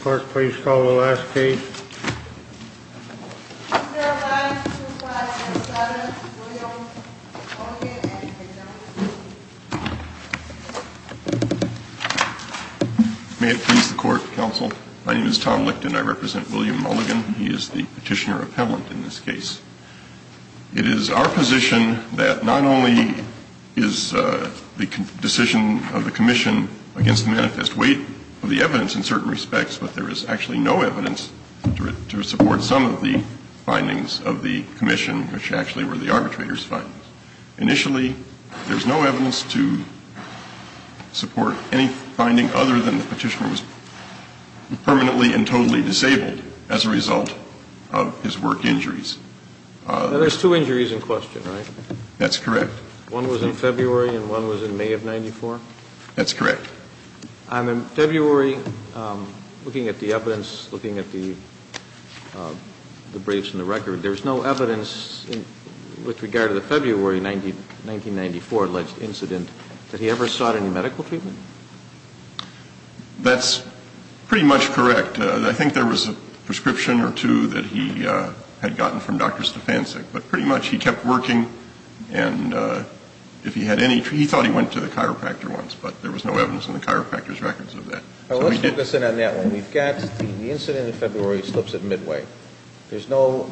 Clerk, please call the last case. May it please the Court, Counsel. My name is Tom Licton. I represent William Mulligan. He is the Petitioner Appellant in this case. It is our position that not only is the decision of the Commission against the manifest weight of the evidence in certain respects, but there is actually no evidence to support some of the findings of the Commission, which actually were the arbitrator's findings. Initially, there's no evidence to support any finding other than the Petitioner was permanently and totally disabled as a result of his work injuries. There's two injuries in question, right? That's correct. One was in February and one was in May of 1994? That's correct. In February, looking at the evidence, looking at the briefs and the record, there's no evidence with regard to the February 1994 alleged incident that he ever sought any medical treatment? That's pretty much correct. I think there was a prescription or two that he had gotten from Dr. Stefancic, but pretty much he kept working and if he had any, he thought he went to the chiropractor once, but there was no evidence in the chiropractor's records of that. Let's focus in on that one. We've got the incident in February slips in midway. There's no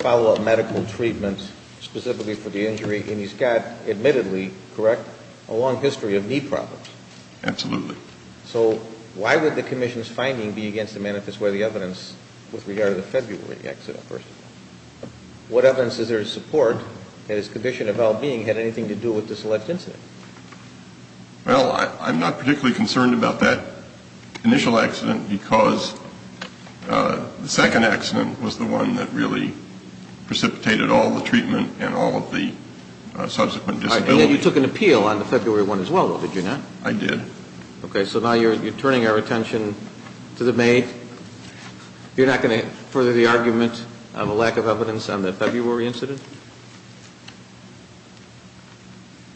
follow-up medical treatment specifically for the injury and he's got admittedly, correct, a long history of knee problems. Absolutely. So why would the Commission's finding be against the manifest weight of the evidence with regard to the February accident? What evidence is there to support that his condition of well-being had anything to do with this alleged incident? Well, I'm not particularly concerned about that initial accident because the second accident was the one that really precipitated all the treatment and all of the subsequent disability. You took an appeal on the February one as well, did you not? I did. Okay, so now you're turning our attention to the May. You're not going to further the argument of a lack of evidence on the February incident?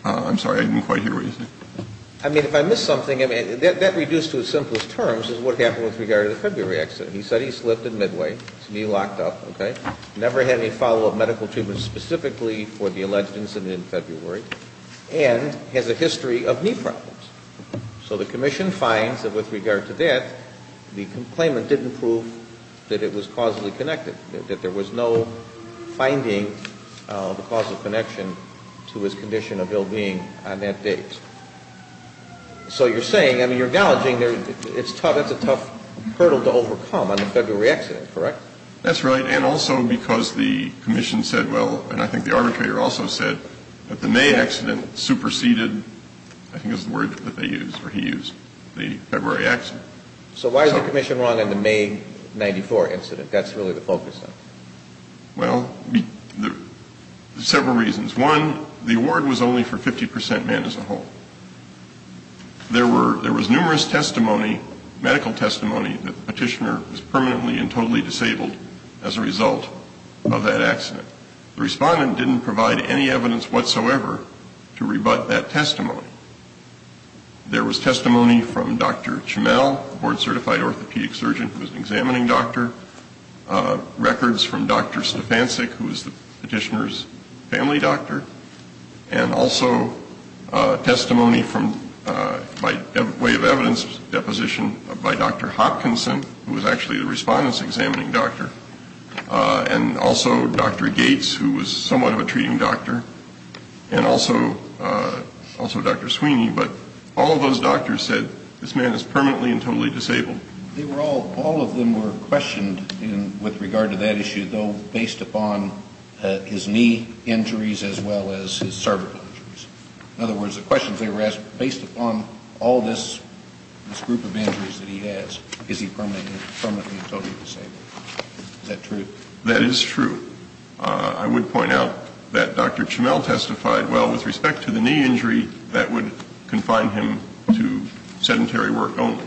I'm sorry, I didn't quite hear what you said. I mean, if I missed something, I mean, that reduced to its simplest terms is what happened with regard to the February accident. He said he slipped in midway, his knee locked up, okay, never had any follow-up medical treatment specifically for the alleged incident in February, and has a history of knee problems. So the Commission finds that with regard to that, the claimant didn't prove that it was causally connected, that there was no finding of a causal connection to his condition of ill-being on that date. So you're saying, I mean, you're acknowledging it's a tough hurdle to overcome on the February accident, correct? That's right, and also because the Commission said, well, and I think the arbitrator also said, that the May accident superseded, I think is the word that they used, or he used, the February accident. So why is the Commission wrong in the May 94 incident? That's really the focus of it. Well, several reasons. One, the award was only for 50% men as a whole. There was numerous testimony, medical testimony, that the petitioner was permanently and totally disabled as a result of that accident. The respondent didn't provide any evidence whatsoever to rebut that testimony. There was testimony from Dr. Chamel, a board-certified orthopedic surgeon who was an examining doctor. Records from Dr. Stefansic, who was the petitioner's family doctor. And also testimony from, by way of evidence, deposition by Dr. Hopkinson, who was actually the respondent's examining doctor. And also Dr. Gates, who was somewhat of a treating doctor. And also Dr. Sweeney. But all of those doctors said, this man is permanently and totally disabled. They were all, all of them were questioned with regard to that issue, though based upon his knee injuries as well as his cervical injuries. In other words, the questions they were asked, based upon all this group of injuries that he has, is he permanently and totally disabled? That is true. I would point out that Dr. Chamel testified, well, with respect to the knee injury, that would confine him to sedentary work only.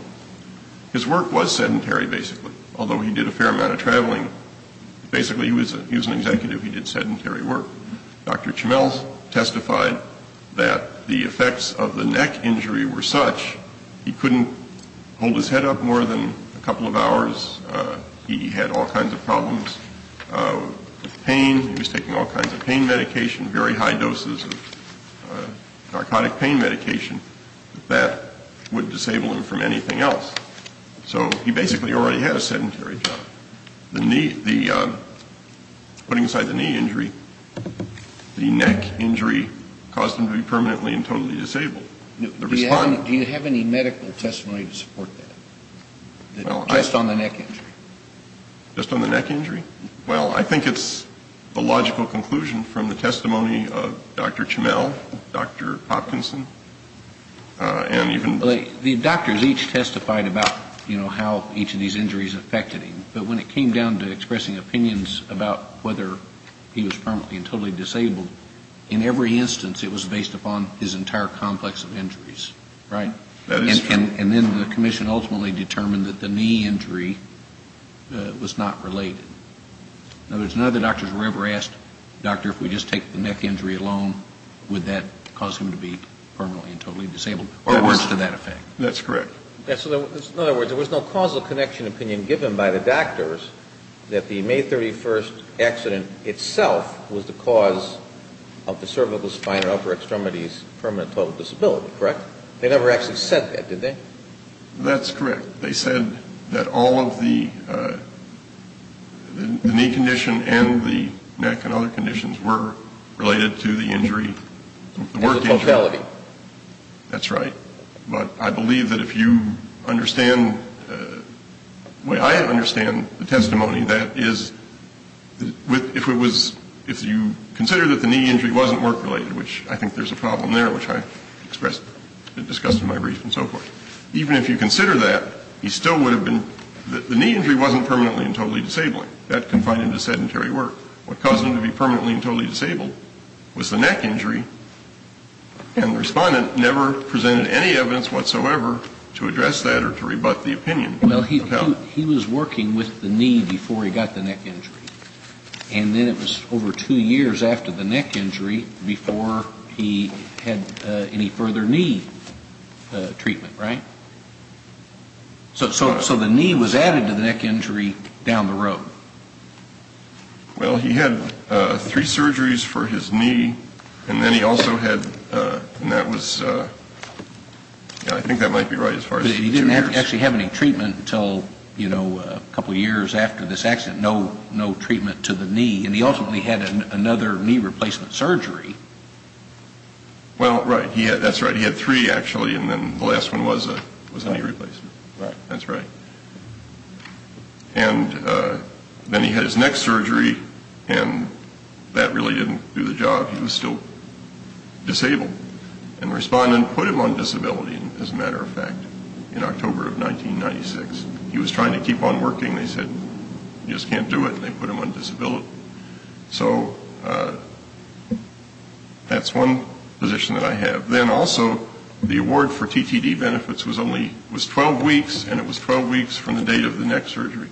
His work was sedentary, basically, although he did a fair amount of traveling. Basically, he was an executive. He did sedentary work. Dr. Chamel testified that the effects of the neck injury were such, he couldn't hold his head up more than a couple of hours. He had all kinds of problems with pain. He was taking all kinds of pain medication, very high doses of narcotic pain medication, that would disable him from anything else. So he basically already had a sedentary job. Putting aside the knee injury, the neck injury caused him to be permanently and totally disabled. Do you have any medical testimony to support that? Just on the neck injury? Just on the neck injury? Well, I think it's a logical conclusion from the testimony of Dr. Chamel, Dr. Hopkinson, and even... The doctors each testified about how each of these injuries affected him, but when it came down to expressing opinions about whether he was permanently and totally disabled, in every instance, it was based upon his entire complex of injuries, right? And then the commission ultimately determined that the knee injury was not related. In other words, none of the doctors were ever asked, doctor, if we just take the neck injury alone, would that cause him to be permanently and totally disabled, or words to that effect. That's correct. In other words, there was no causal connection opinion given by the doctors that the May 31st accident itself was the cause of the cervical spine and upper extremities permanent and total disability, correct? They never actually said that, did they? That's correct. They said that all of the knee condition and the neck and other conditions were related to the injury, the work injury. That's right. But I believe that if you understand, the way I understand the testimony, that is, if it was, if you consider that the knee injury wasn't work-related, which I think there's a problem there, which I expressed, discussed in my brief and so forth, even if you consider that, he still would have been, the knee injury wasn't permanently and totally disabling, that confined him to sedentary work. What caused him to be permanently and totally disabled was the neck injury, and the respondent never presented any evidence whatsoever to address that or to rebut the opinion. Well, he was working with the knee before he got the neck injury, and then it was over two years after the neck injury before he had any further knee treatment, right? So the knee was added to the neck injury down the road? Well, he had three surgeries for his knee, and then he also had, and that was, I think that might be right as far as two years. But he didn't actually have any treatment until, you know, a couple of years after this accident, no treatment to the knee, and he ultimately had another knee replacement surgery. Well, right. That's right. He had three, actually, and then the last one was a knee replacement. Right. That's right. And then he had his next surgery, and that really didn't do the job. He was still disabled. And the respondent put him on disability, as a matter of fact, in October of 1996. He was trying to keep on working. They said, you just can't do it, and they put him on disability. So that's one position that I have. Then also, the award for TTD benefits was only, was 12 weeks, and it was 12 weeks from the date of the next surgery.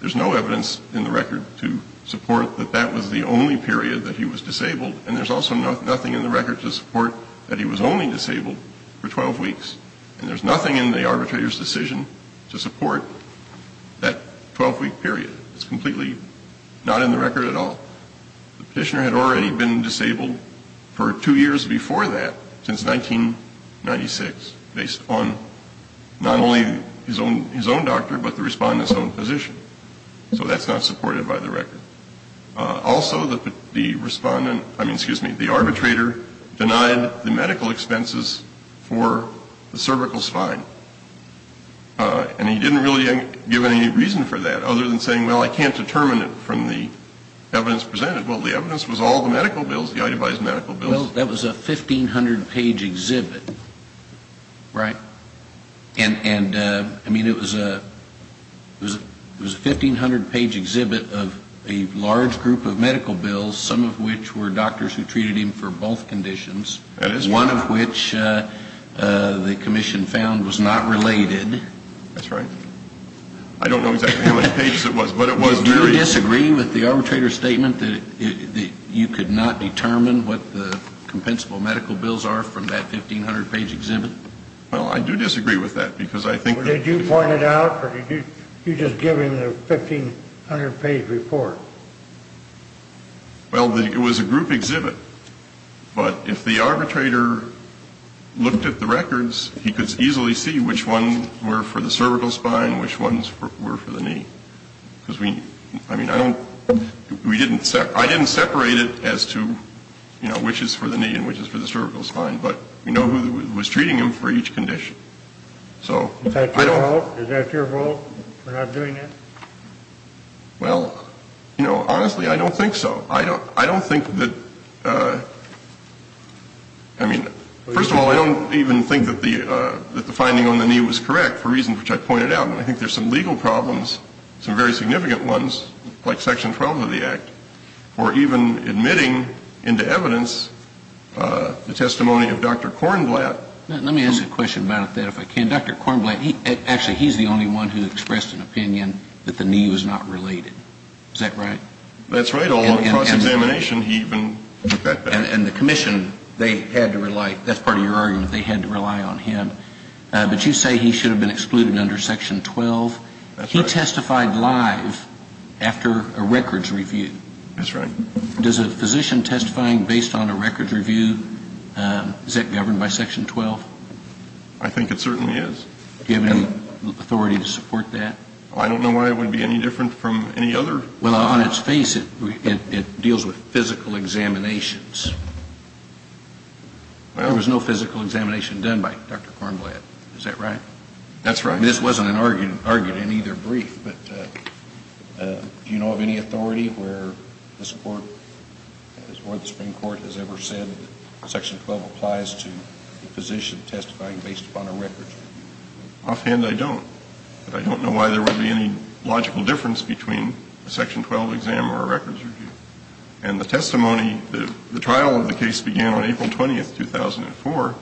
There's no evidence in the record to support that that was the only period that he was disabled, and there's also nothing in the record to support that he was only disabled for 12 weeks. And there's nothing in the arbitrator's decision to support that 12-week period. It's completely not in the record at all. The petitioner had already been disabled for two years before that, since 1996, based on not only his own doctor, but the respondent's own position. So that's not supported by the record. Also, the respondent, I mean, excuse me, the arbitrator denied the medical expenses for the cervical spine. And he didn't really give any reason for that, other than saying, well, I can't determine it from the evidence presented. Well, the evidence was all the medical bills, the itemized medical bills. Well, that was a 1,500-page exhibit, right? And, I mean, it was a 1,500-page exhibit of a large group of medical bills, some of which were doctors who treated him for both conditions. One of which the commission found was not related. That's right. I don't know exactly how many pages it was, but it was very... Do you disagree with the arbitrator's statement that you could not determine what the compensable medical bills are from that 1,500-page exhibit? Well, I do disagree with that, because I think... Did you point it out, or did you just give him the 1,500-page report? Well, it was a group exhibit. But if the arbitrator looked at the records, he could easily see which ones were for the cervical spine and which ones were for the knee. Because, I mean, I don't... I didn't separate it as to, you know, which is for the knee and which is for the cervical spine. But we know who was treating him for each condition. Is that your vote for not doing that? Well, you know, honestly, I don't think so. I don't think that... I mean, first of all, I don't even think that the finding on the knee was correct, for reasons which I pointed out. And I think there's some legal problems, some very significant ones, like Section 12 of the Act, or even admitting into evidence the testimony of Dr. Kornblatt. Let me ask a question about that, if I can. Dr. Kornblatt, actually, he's the only one who expressed an opinion that the knee was not related. Is that right? That's right. And the commission, they had to rely, that's part of your argument, they had to rely on him. But you say he should have been excluded under Section 12. He testified live after a records review. That's right. Does a physician testifying based on a records review, is that governed by Section 12? I think it certainly is. Do you have any authority to support that? I don't know why it would be any different from any other. Well, on its face, it deals with physical examinations. There was no physical examination done by Dr. Kornblatt. Is that right? That's right. This wasn't argued in either brief. But do you know of any authority where the Supreme Court has ever said that Section 12 applies to a physician testifying based upon a records review? Offhand, I don't. But I don't know why there would be any logical difference between a Section 12 exam or a records review. And the testimony, the trial of the case began on April 20th, 2004.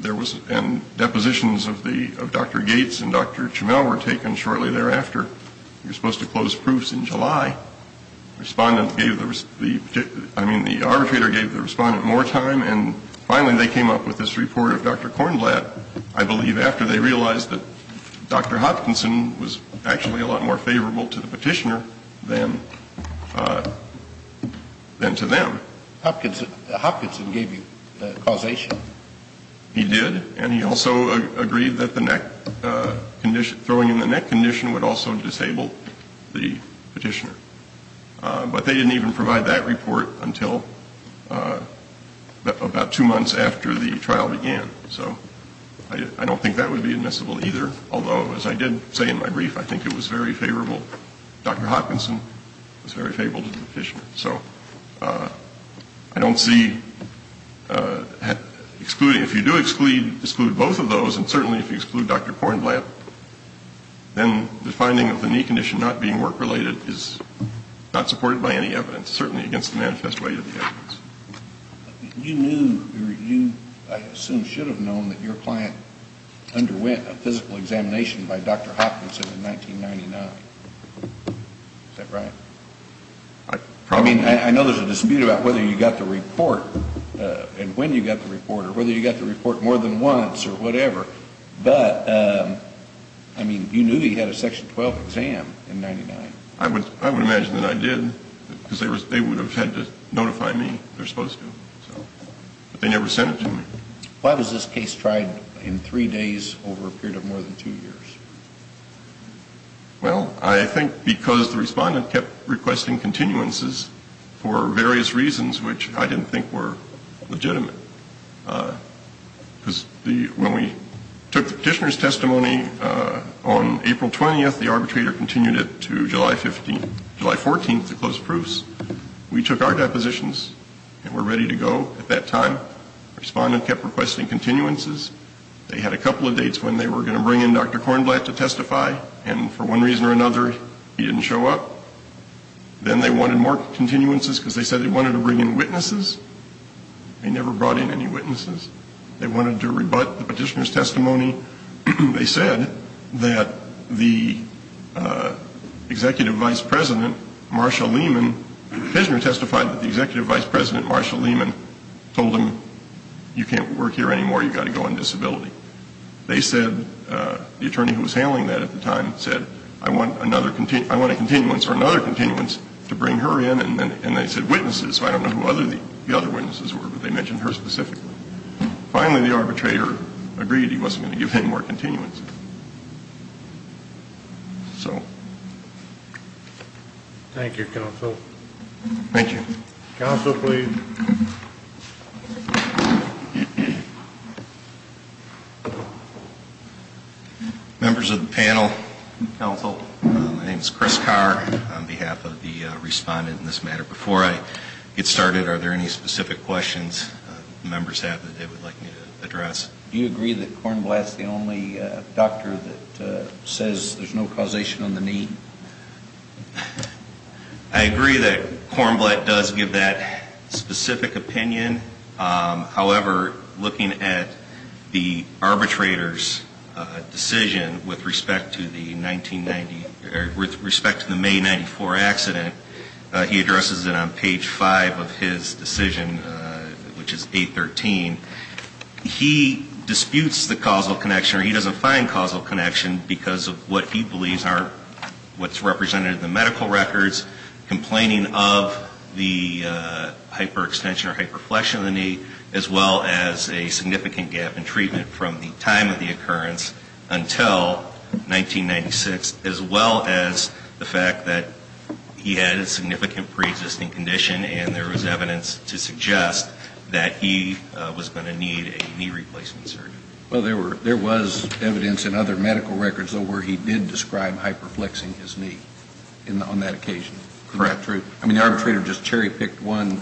There was, and depositions of Dr. Gates and Dr. Chemel were taken shortly thereafter. You're supposed to close proofs in July. Respondent gave the, I mean, the arbitrator gave the respondent more time, and finally they came up with this report of Dr. Kornblatt, I believe after they realized that Dr. Hopkinson was actually a lot more favorable to the petitioner than to them. Hopkinson gave you causation? He did, and he also agreed that the neck condition, throwing in the neck condition would also disable the petitioner. But they didn't even provide that report until about two months after the trial began. So I don't think that would be admissible either. Although, as I did say in my brief, I think it was very favorable, Dr. Hopkinson was very favorable to the petitioner. So I don't see excluding, if you do exclude both of those, and certainly if you exclude Dr. Kornblatt, then the finding of the knee condition not being work-related is not supported by any evidence, certainly against the manifest way of the evidence. You knew, or you, I assume, should have known that your client underwent a physical examination by Dr. Hopkinson in 1999. Is that right? I mean, I know there's a dispute about whether you got the report, and when you got the report, or whether you got the report more than once, or whatever. But, I mean, you knew he had a Section 12 exam in 1999. I would imagine that I did, because they would have had to notify me, they're supposed to. But they never sent it to me. Why was this case tried in three days over a period of more than two years? Well, I think because the respondent kept requesting continuances for various reasons, which I didn't think were legitimate. Because when we took the petitioner's testimony on April 20th, the arbitrator continued it to July 14th to close proofs. We took our depositions and were ready to go at that time. Respondent kept requesting continuances. They had a couple of dates when they were going to bring in Dr. Kornblatt to testify, and for one reason or another, he didn't show up. Then they wanted more continuances because they said they wanted to bring in witnesses. They never brought in any witnesses. They wanted to rebut the petitioner's testimony. They said that the executive vice president, Marshall Lehman, The petitioner testified that the executive vice president, Marshall Lehman, told him, you can't work here anymore, you've got to go on disability. They said, the attorney who was handling that at the time said, I want a continuance or another continuance to bring her in, and they said witnesses. So I don't know who the other witnesses were, but they mentioned her specifically. Finally, the arbitrator agreed he wasn't going to give any more continuances. So. Thank you, counsel. Thank you. Counsel, please. Members of the panel, counsel, my name is Chris Carr. On behalf of the respondent in this matter, before I get started, are there any specific questions members have that they would like me to address? Do you agree that Kornblatt's the only doctor that says there's no causation on the knee? I agree that Kornblatt does give that specific opinion. However, looking at the arbitrator's decision with respect to the May 1994 accident, he addresses it on page 5 of his decision, which is 813. He disputes the causal connection, or he doesn't find causal connection, because of what he believes are what's represented in the medical records, complaining of the hyperextension or hyperflexion of the knee, as well as a significant gap in treatment from the time of the occurrence until 1996, as well as the fact that he had a significant preexisting condition, and there was evidence to suggest that he was going to need a knee replacement surgery. Well, there was evidence in other medical records, though, where he did describe hyperflexing his knee on that occasion. Correct. I mean, the arbitrator just cherry-picked one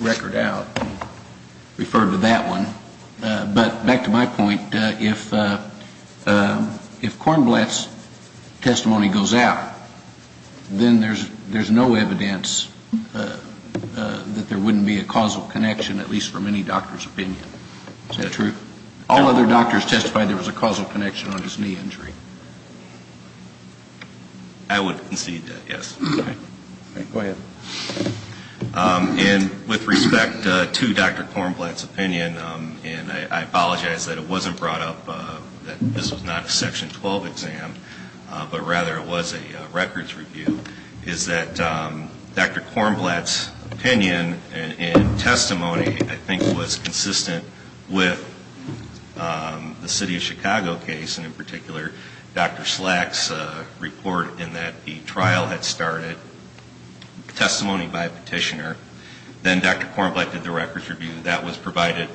record out and referred to that one. But back to my point, if Kornblatt's testimony goes out, then there's no evidence that there wouldn't be a causal connection, at least from any doctor's opinion. Is that true? All other doctors testified there was a causal connection on his knee injury. I would concede that, yes. Go ahead. And with respect to Dr. Kornblatt's opinion, and I apologize that it wasn't brought up, that this was not a Section 12 exam, but rather it was a records review, is that Dr. Kornblatt's opinion and testimony, I think, with the City of Chicago case, and in particular Dr. Slack's report in that the trial had started, testimony by a petitioner, then Dr. Kornblatt did the records review, that was provided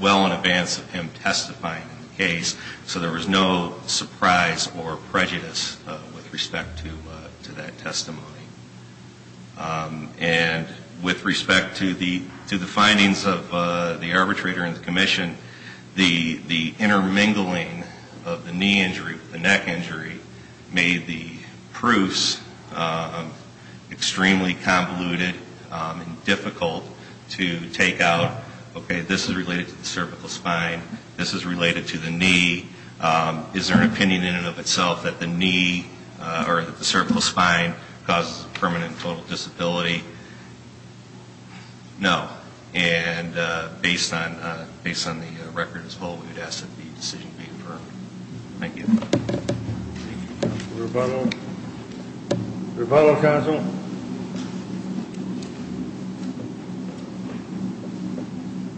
well in advance of him testifying in the case, so there was no surprise or prejudice with respect to that testimony. And with respect to the findings of the arbitrator and the commission, the intermingling of the knee injury with the neck injury made the proofs extremely convoluted and difficult to take out. Okay, this is related to the cervical spine, this is related to the knee. Is there an opinion in and of itself that the knee or that the cervical spine causes permanent and total disability? No. And based on the record as well, we would ask that the decision be affirmed. Thank you. Thank you, counsel. Rebuttal? Rebuttal, counsel?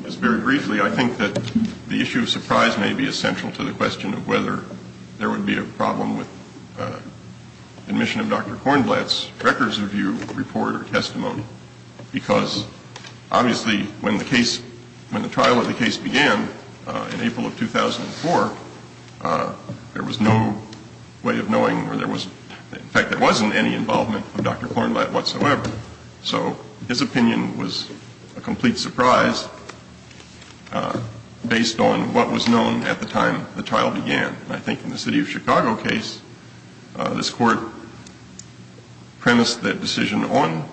Just very briefly, I think that the issue of surprise may be essential to the question of whether there would be a problem with admission of Dr. Kornblatt's records review report or testimony, because obviously when the trial of the case began in April of 2004, there was no way of knowing where there was, in fact, there wasn't any involvement of Dr. Kornblatt whatsoever. So his opinion was a complete surprise based on what was known at the time the trial began. And I think in the city of Chicago case, this court premised the decision on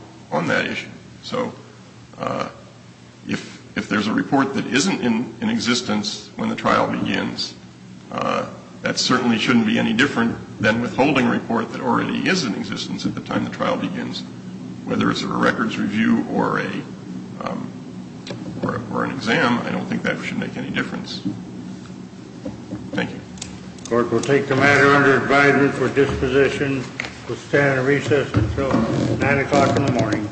that issue. So if there's a report that isn't in existence when the trial begins, that certainly shouldn't be any different than withholding a report that already is in existence at the time the trial begins. Whether it's a records review or an exam, I don't think that should make any difference. Thank you. The court will take the matter under advisement for disposition. We'll stand at recess until 9 o'clock in the morning.